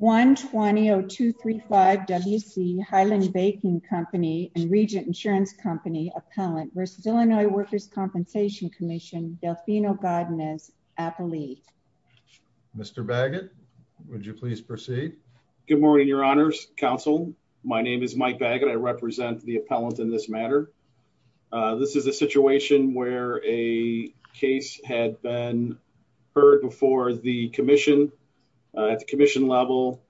120-235-WC Highland Baking Company and Regent Insurance Company Appellant v. Illinois Workers' Compensation Commission Delfino Godinez-Apolli. Mr. Baggett, would you please proceed? Good morning, your honors, counsel. My name is Mike Baggett. I represent the appellant in this matter. This is a situation where a case had been heard before the commission at the commission level.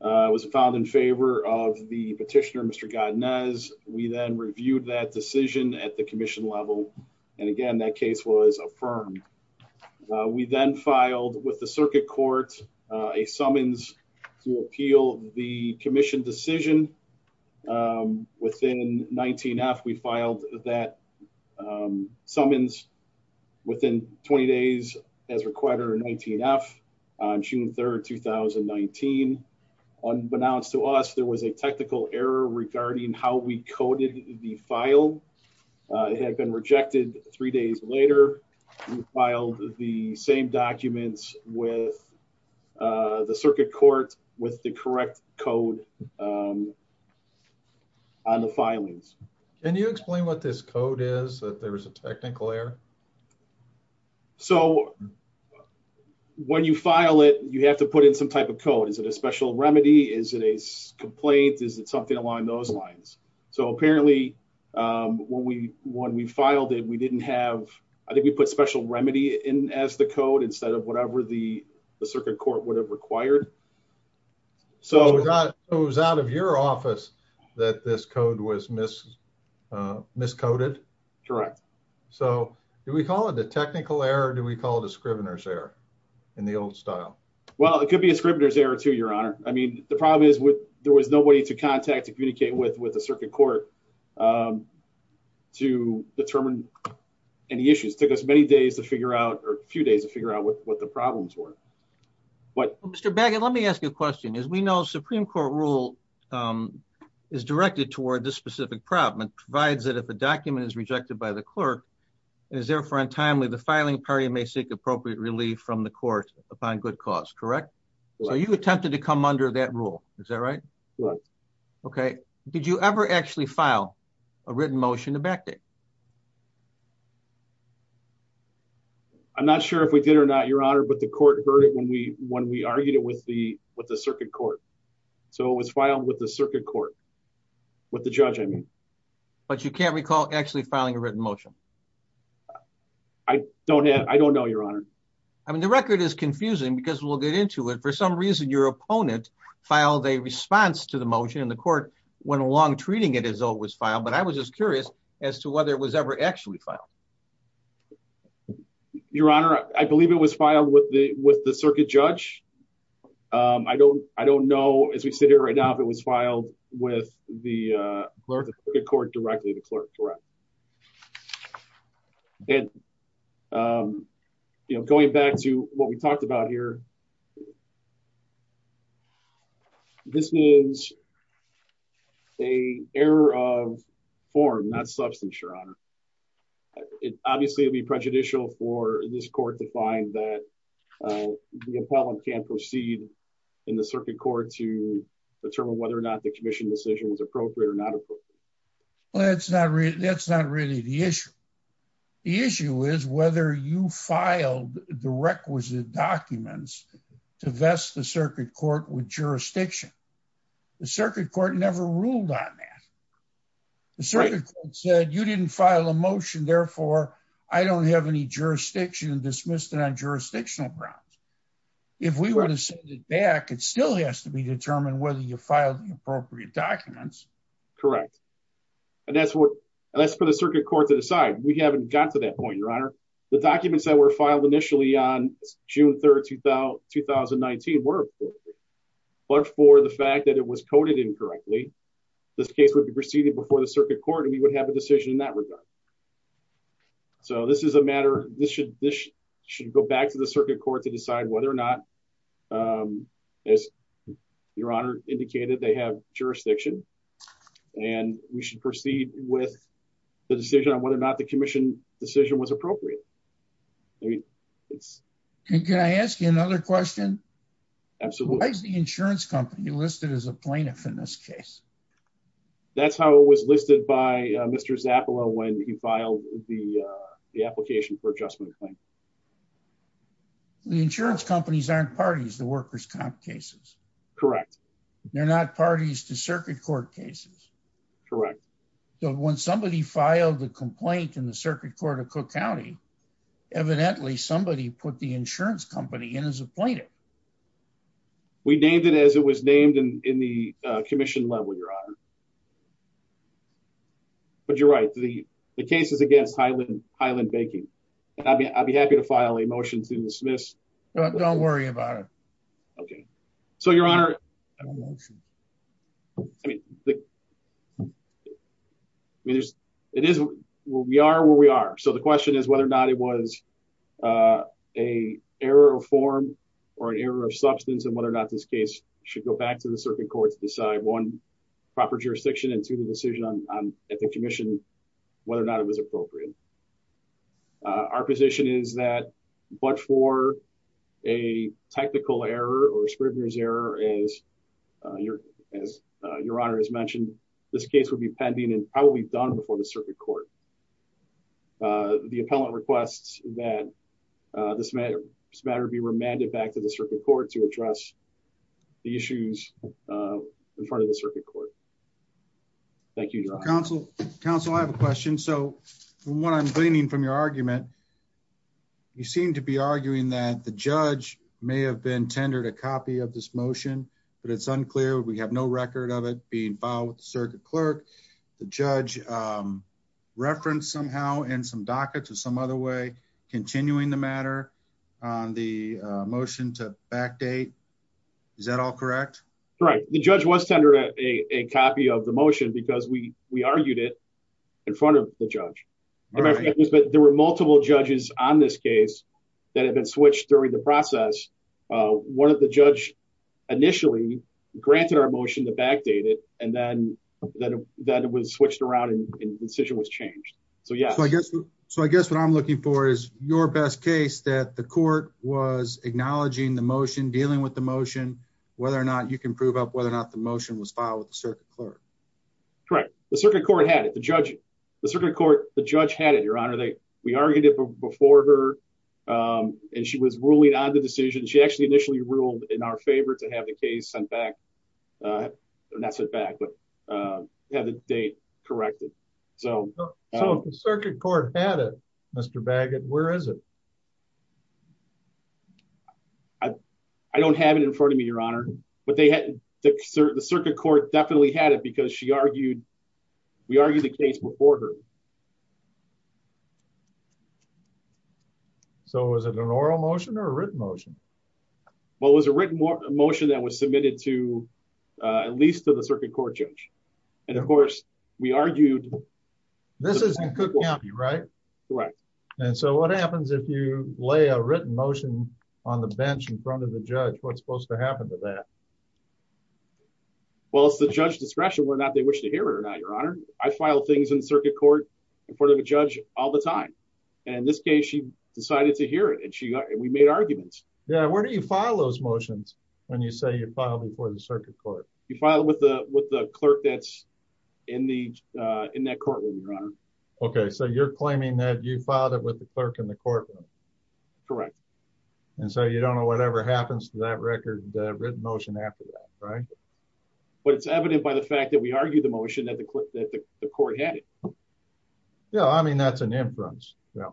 It was found in favor of the petitioner, Mr. Godinez. We then reviewed that decision at the commission level, and again, that case was affirmed. We then filed with the circuit court a summons to appeal the commission decision. Within 19F, we filed that summons within 20 days as required under 19F on June 3rd, 2019. Unbeknownst to us, there was a technical error regarding how we coded the file. It had been rejected three days later. We filed the same documents with the circuit court with the correct code on the filings. Can you explain what this is? When you file it, you have to put in some type of code. Is it a special remedy? Is it a complaint? Is it something along those lines? Apparently, when we filed it, we didn't have, I think we put special remedy in as the code instead of whatever the circuit court would have required. It was out of your office that this code was miscoded? Correct. Do we call it a technical error or do we call it a scrivener's error in the old style? It could be a scrivener's error too, Your Honor. The problem is there was nobody to contact, to communicate with, with the circuit court to determine any issues. It took us many days to figure out or a few days to figure out what the problems were. Mr. Baggett, let me ask you a question. As we know, Supreme Court rule is directed toward this specific problem. It provides that if a document is the filing party may seek appropriate relief from the court upon good cause, correct? So you attempted to come under that rule. Is that right? Okay. Did you ever actually file a written motion to Baggett? I'm not sure if we did or not, Your Honor, but the court heard it when we, when we argued it with the, with the circuit court. So it was filed with the circuit court, with the judge, I mean, but you can't recall actually filing a written motion. I don't have, I don't know, Your Honor. I mean, the record is confusing because we'll get into it. For some reason, your opponent filed a response to the motion and the court went along treating it as though it was filed. But I was just curious as to whether it was ever actually filed. Your Honor, I believe it was filed with the, with the circuit judge. Um, I don't, I don't know as we sit here right now, if it was filed with the, uh, the court directly, the clerk, correct. And, um, you know, going back to what we talked about here, this is a error of form, not substance, Your Honor. It obviously would be prejudicial for this court to find that, uh, the appellant can't proceed in the circuit court to determine whether or not the commission decision was appropriate or not. Well, that's not really, that's not really the issue. The issue is whether you filed the requisite documents to vest the circuit court with jurisdiction. The circuit court never ruled on that. The circuit court said you didn't file a motion. Therefore I don't have any jurisdiction and dismissed it on jurisdictional grounds. If we were to send it back, it still has to be determined whether you filed the appropriate documents. Correct. And that's what, and that's for the circuit court to decide. We haven't gotten to that point. Your Honor, the documents that were filed initially on June 3rd, 2000, 2019 were, but for the fact that it was coded incorrectly, this case would be proceeded before the circuit court and we would have a decision in that regard. So this is a matter, this should, this should go back to the circuit court to decide whether or not, um, as your Honor indicated, they have jurisdiction and we should proceed with the decision on whether or not the commission decision was appropriate. Can I ask you another question? Absolutely. Why is the insurance company listed as a plaintiff in this case? That's how it was listed by Mr. Zappala when he filed the, uh, the application for adjustment claim. The insurance companies aren't parties to the workers' comp cases. Correct. They're not parties to circuit court cases. Correct. So when somebody filed a complaint in the circuit court of Cook County, evidently somebody put the insurance company in as a plaintiff. We named it as it was named in the commission level, your Honor. But you're right. The, the case is against Highland Highland baking. I'd be, I'd be happy to file a motion to dismiss. Don't worry about it. Okay. So your Honor, I don't want you. I mean, the, I mean, there's, it is where we are, where we are. So the question is whether or not it was, uh, a error of form or an error of substance and whether or not this case should go back to the jurisdiction and to the decision on, um, at the commission, whether or not it was appropriate. Our position is that, but for a technical error or a scrivener's error, as, uh, your, as, uh, your Honor has mentioned, this case would be pending and probably done before the circuit court. Uh, the appellant requests that, uh, this matter, this matter be remanded back to the court. Thank you. Counsel, counsel, I have a question. So what I'm gaining from your argument, you seem to be arguing that the judge may have been tendered a copy of this motion, but it's unclear. We have no record of it being filed with the circuit clerk, the judge, um, reference somehow in some docket to some other way, continuing the matter on the, uh, motion to backdate. Is that all correct? Right. The judge was tendered a copy of the motion because we, we argued it in front of the judge, but there were multiple judges on this case that had been switched during the process. Uh, one of the judge initially granted our motion to backdate it. And then that, that was switched around and the decision was changed. So, yeah, so I guess, so I guess what I'm looking for is your best case that the court was acknowledging the motion, dealing with the motion, whether or not you can prove up whether or not the motion was filed with the circuit clerk. Correct. The circuit court had it, the judge, the circuit court, the judge had it, your honor. They, we argued it before her. Um, and she was ruling on the decision. She actually initially ruled in our favor to have the case sent back. Uh, and that's it back, but, uh, they corrected. So the circuit court had it, Mr. Baggett, where is it? I, I don't have it in front of me, your honor, but they had the circuit court definitely had it because she argued, we argued the case before her. So was it an oral motion or a written motion? Well, it was a written motion that was submitted to, at least to the circuit court judge. And of course we argued. This is in Cook County, right? Correct. And so what happens if you lay a written motion on the bench in front of the judge, what's supposed to happen to that? Well, it's the judge discretion, whether or not they wish to hear it or not, your honor. I file things in circuit court in front of a judge all the time. And in this case, she decided to hear it and she, we made arguments. Yeah. Where do you file those motions when you say you filed before the circuit court? You file it with the, with the clerk that's in the, uh, in that courtroom, your honor. Okay. So you're claiming that you filed it with the clerk in the courtroom. Correct. And so you don't know whatever happens to that record, the written motion after that. Right. But it's evident by the fact that we argued the motion that the court, that the court had it. Yeah. I mean, that's an inference. Yeah.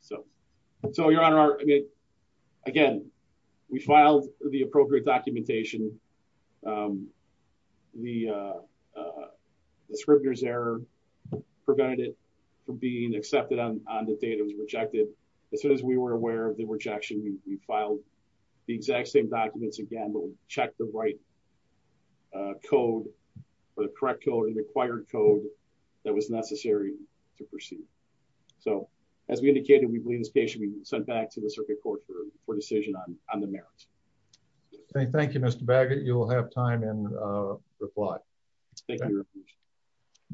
So, so your honor, I mean, again, we filed the appropriate documentation. Um, the, uh, uh, the scrivener's error prevented it from being accepted on, on the date it was rejected. As soon as we were aware of the rejection, we filed the exact same documents again, but we checked the right, uh, code for the correct code and acquired code that was necessary to proceed. So as we indicated, we believe this circuit court for decision on the merits. Okay. Thank you, Mr. Baggett. You will have time and, uh, reply. Thank you.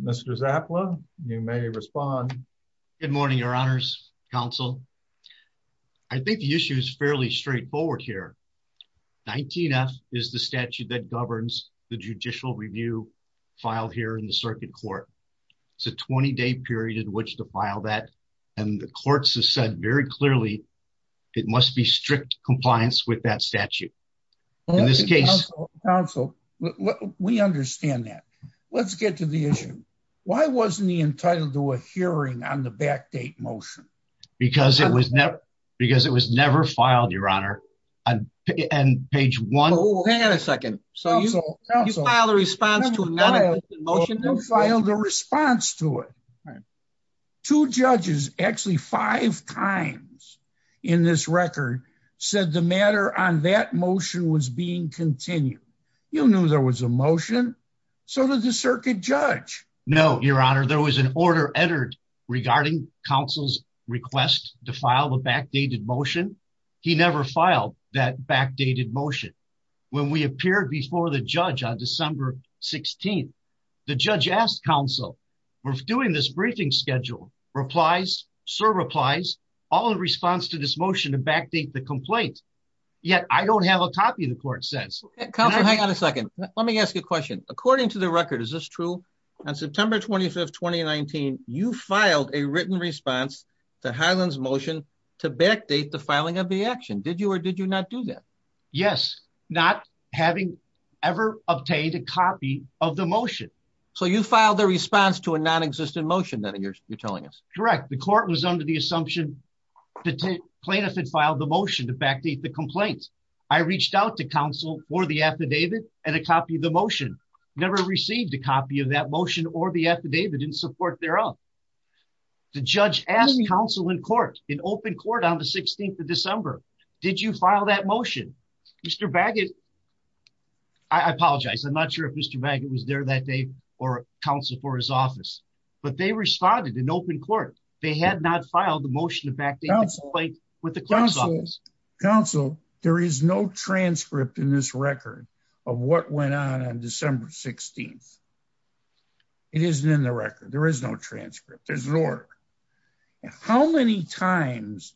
Mr. Zappa, you may respond. Good morning, your honors council. I think the issue is fairly straightforward here. 19 F is the statute that governs the judicial review file here in the circuit court. It's a 20 day period in which to file that. And the courts have said very clearly, it must be strict compliance with that statute in this case. We understand that. Let's get to the issue. Why wasn't he entitled to a hearing on the backdate motion? Because it was never, because it was never filed your honor. And page one, hang on a second. So you file a response to a motion to file the response to it. Two judges actually five times in this record said the matter on that motion was being continued. You knew there was a motion. So does the circuit judge? No, your honor, there was an order entered regarding council's request to file a backdated motion. He never filed that backdated motion. When we appeared before the judge on December 16th, the judge asked council we're doing this briefing schedule replies, sir, replies all in response to this motion to backdate the complaint. Yet I don't have a copy of the court says, hang on a second. Let me ask you a question. According to the record, is this on September 25th, 2019, you filed a written response to Highland's motion to backdate the filing of the action. Did you, or did you not do that? Yes. Not having ever obtained a copy of the motion. So you filed the response to a non-existent motion that you're telling us. Correct. The court was under the assumption that plaintiff had filed the motion to backdate the complaint. I reached out to council for the affidavit and a copy of the motion never received a copy of that motion or the affidavit didn't support their own. The judge asked council in court, in open court on the 16th of December, did you file that motion? Mr. Baggett, I apologize. I'm not sure if Mr. Baggett was there that day or council for his office, but they responded in open court. They had not filed the motion to backdate the complaint with the clerk's office. Council, there is no transcript in this record of what went on on December 16th. It isn't in the record. There is no transcript. There's an order. How many times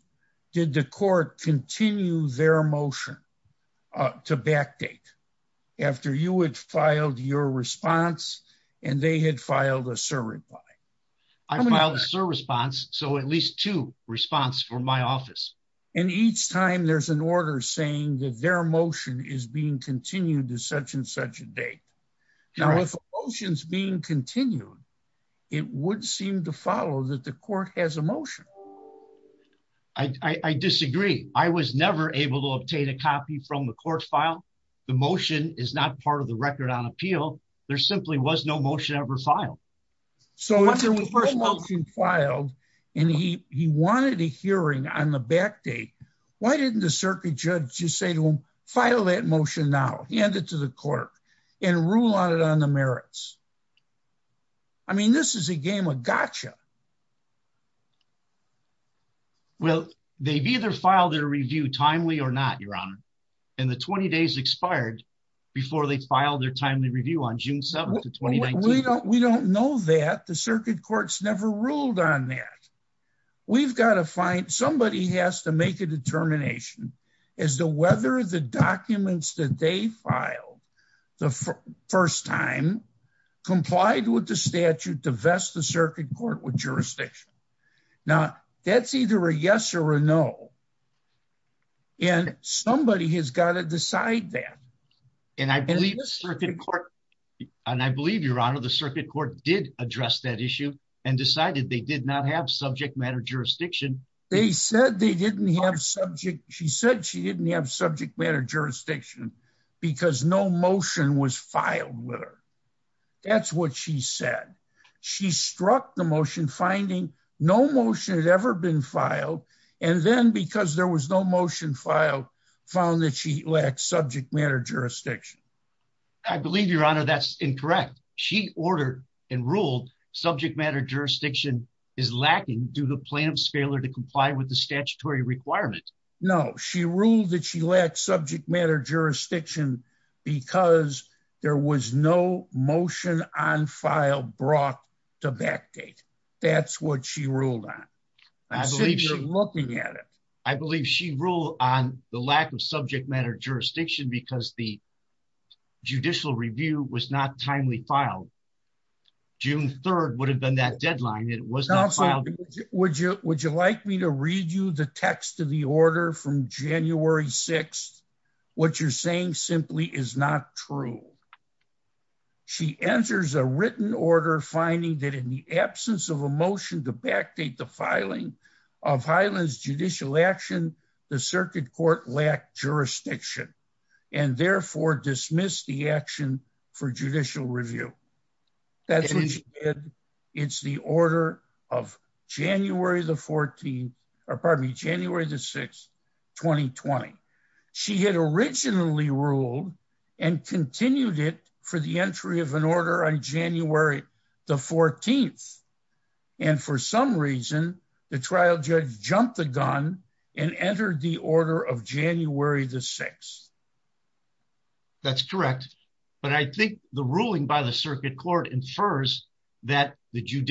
did the court continue their motion to backdate after you had filed your response and they had filed a certify? I filed a certified response. So at least two responses for my office. And each time there's an order saying that their motion is being continued to such and such a date. Now if the motion is being continued, it would seem to follow that the court has a motion. I disagree. I was never able to obtain a copy from the court file. The motion is not part of the record on appeal. There simply was no motion ever filed. So if there was no motion filed and he wanted a hearing on the backdate, why didn't the circuit judge just say to him, file that motion now, hand it to the court and rule on it on the merits. I mean, this is a game of gotcha. Well, they've either filed their review timely or not, your honor. And the 20 days expired before they filed their timely review on June 7th of 2019. We don't know that the circuit courts never ruled on that. We've got to find somebody has to make a determination as to whether the documents that they filed the first time complied with the statute to vest the circuit court with jurisdiction. Now that's either a yes or a no. And somebody has to decide that. And I believe the circuit court, and I believe your honor, the circuit court did address that issue and decided they did not have subject matter jurisdiction. They said they didn't have subject. She said she didn't have subject matter jurisdiction because no motion was filed with her. That's what she said. She struck the motion finding no motion had ever been filed. And then because there was no motion filed found that she lacked subject matter jurisdiction. I believe your honor that's incorrect. She ordered and ruled subject matter jurisdiction is lacking due to plaintiff's failure to comply with the statutory requirement. No, she ruled that she lacked subject matter jurisdiction because there was no motion on file brought to backdate. That's what she ruled on. I believe you're looking at it. I believe she ruled on the lack of subject matter jurisdiction because the judicial review was not timely filed. June 3rd would have been that deadline. It was not filed. Would you like me to read you the text of the order from January 6th? What you're saying simply is not true. She enters a written order finding that in the absence of a motion to backdate the filing of Highland's judicial action the circuit court lacked jurisdiction and therefore dismissed the action for judicial review. That's what she did. It's the order of January the 14th or pardon January the 6th, 2020. She had originally ruled and continued it for the entry of an order on January the 14th. And for some reason the trial judge jumped the gun and entered the order of January the 6th. That's correct. But I think the ruling by the circuit court infers that the motion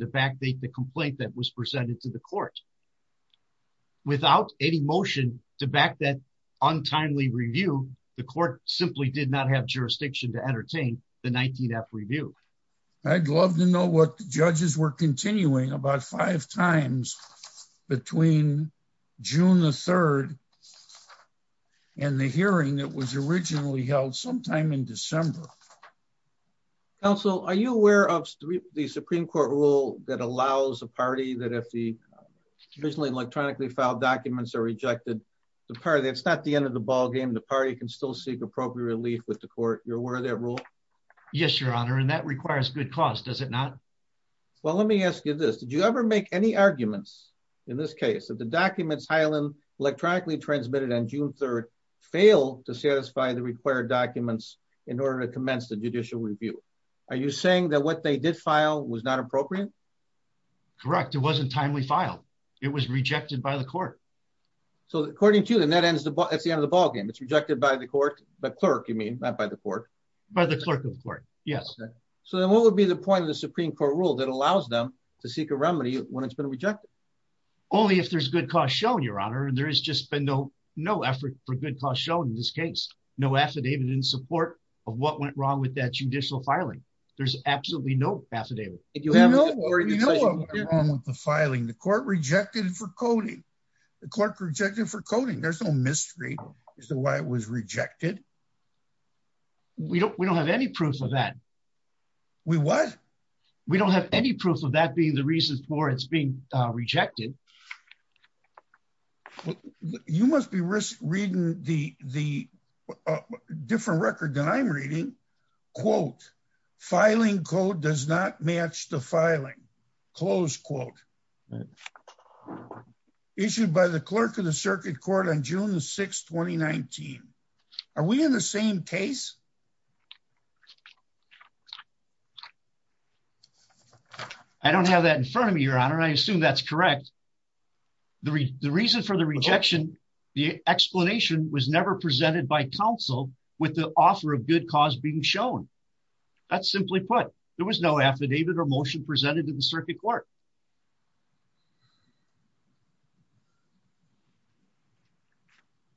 to backdate the complaint that was presented to the court without any motion to back that untimely review the court simply did not have jurisdiction to entertain the 19-f review. I'd love to know what the judges were continuing about five times between June the 3rd and the hearing that was originally held sometime in December. Counsel, are you aware of the Supreme Court rule that allows a party that if the originally electronically filed documents are rejected the party, that's not the end of the ballgame. The party can still seek appropriate relief with the court. You're aware of that rule? Yes, your honor. And that requires good cause. Does it not? Well, let me ask you this. Did you ever make any arguments in this case that the documents Highland electronically transmitted on June 3rd failed to satisfy the required documents in order to commence the judicial review? Are you saying that what they did file was not appropriate? Correct. It wasn't timely filed. It was rejected by the court. So according to the net ends, that's the end of the ballgame. It's rejected by the court, the clerk, you mean not by the court? By the clerk of the court. Yes. So then what would be the point of the Supreme Court rule that allows them to seek a remedy when it's been rejected? Only if there's good cause shown, your honor. And there has just been no, no effort for good cause shown in this case, no affidavit in support of what went wrong with that judicial filing. There's absolutely no affidavit. You know what went wrong with the filing? The court rejected it for coding. The court rejected for coding. There's no mystery as to why it was rejected. We don't, we don't have any proof of that. We what? We don't have any proof of that being the reason for it's being rejected. You must be reading the different record than I'm reading. Quote, filing code does not match the filing. Close quote. Issued by the clerk of the circuit court on June the 6th, 2019. Are we in the same taste? I don't have that in front of me, your honor. I assume that's correct. The reason for the rejection, the explanation was never presented by counsel with the offer of good cause being shown that simply put, there was no affidavit or motion presented to the circuit court.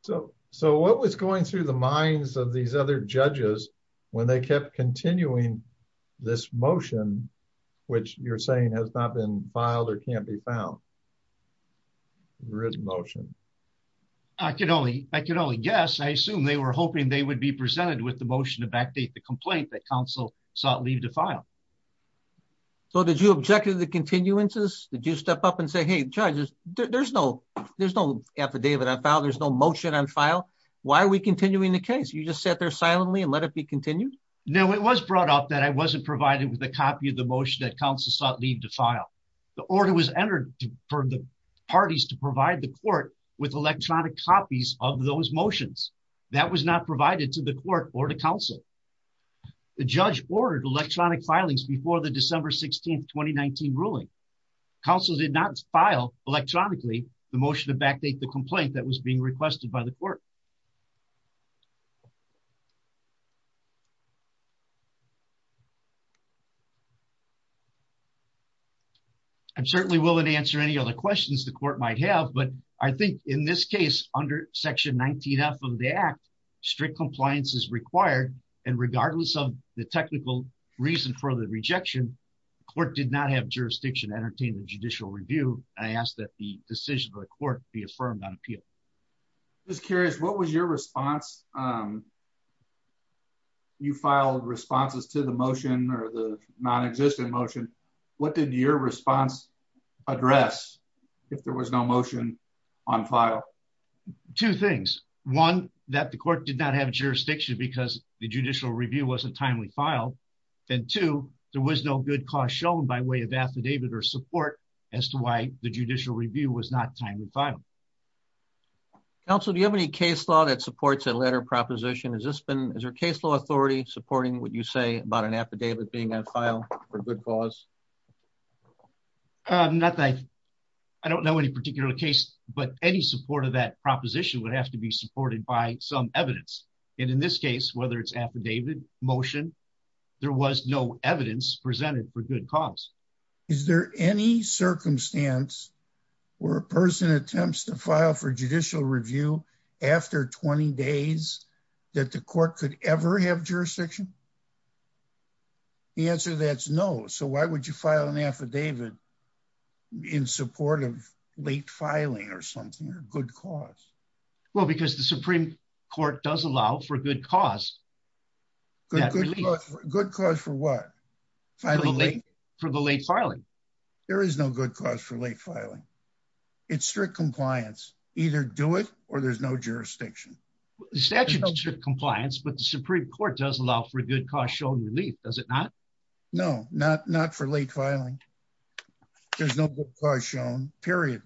So, so what was going through the minds of these other judges when they kept continuing this motion, which you're saying has not been filed or can't be found written motion. I can only, I can only guess. I assume they were hoping they would be presented with the motion to backdate the complaint that counsel sought leave to file. So did you object to the continuances? Did you step up and say, Hey, there's no, there's no affidavit. I found there's no motion on file. Why are we continuing the case? You just sat there silently and let it be continued. No, it was brought up that I wasn't provided with a copy of the motion that counsel sought leave to file. The order was entered for the parties to provide the court with electronic copies of those motions that was not provided to the court or to counsel. The judge ordered electronic filings before the December 16th, 2019 ruling. Counsel did not file electronically the motion to backdate the complaint that was requested by the court. I'm certainly willing to answer any other questions the court might have, but I think in this case under section 19 F of the act strict compliance is required. And regardless of the technical reason for the rejection court did not have jurisdiction to entertain the judicial review. I asked that the decision of the court be affirmed on appeal. Just curious, what was your response? Um, you filed responses to the motion or the non-existent motion. What did your response address? If there was no motion on file, two things, one that the court did not have jurisdiction because the judicial review wasn't timely file. Then two, there was no good cause shown by way of affidavit or support as to why the judicial review was not timely file. Counsel, do you have any case law that supports that letter proposition? Has this been, is there a case law authority supporting what you say about an affidavit being on file for good cause? Um, not that I don't know any particular case, but any support of that proposition would have to be supported by some evidence. And in this case, whether it's affidavit motion, there was no evidence presented for good cause. Is there any circumstance where a person attempts to file for judicial review after 20 days that the court could ever have jurisdiction? The answer that's no. So why would you file an affidavit in support of late filing or something good cause? Well, because the Supreme Court does allow for good cause. Good cause for what? For the late filing. There is no good cause for late filing. It's strict compliance. Either do it or there's no jurisdiction. Statute of strict compliance, but the Supreme Court does allow for good cause shown relief. Does it not? No, not, not for late filing. There's no good cause shown period.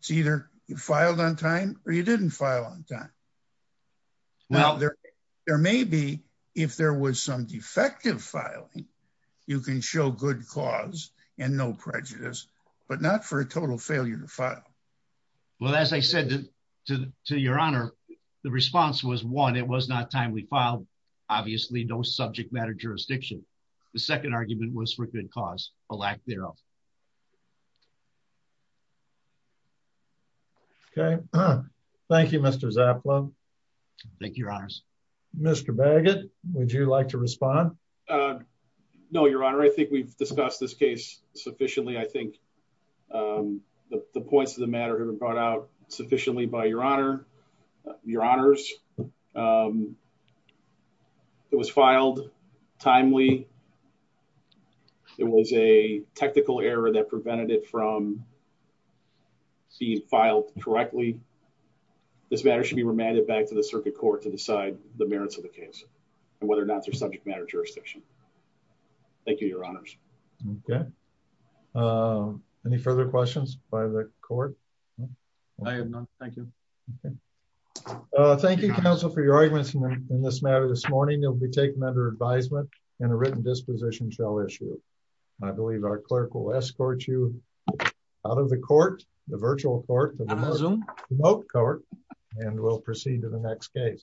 It's either filed on time or you didn't file on time. Well, there, there may be, if there was some defective filing, you can show good cause and no prejudice, but not for a total failure to file. Well, as I said to, to your honor, the response was one, it was not timely filed. Obviously no subject matter jurisdiction. The second argument was for good cause, a lack thereof. Okay. Thank you, Mr. Zaflow. Thank you, your honors. Mr. Baggett, would you like to respond? No, your honor. I think we've discussed this case sufficiently. I think the points of the matter have been brought out sufficiently by your honor, your honors. It was filed timely. It was a technical error that prevented it from being filed correctly. This matter should be remanded back to the circuit court to decide the merits of the case and whether or not they're subject matter jurisdiction. Thank you, your honors. Okay. Any further questions by the court? I have none. Thank you. Okay. Thank you counsel for your arguments in this matter. This morning, there'll be taken under advisement and a written clerk will escort you out of the court, the virtual court, to the remote court, and we'll proceed to the next case.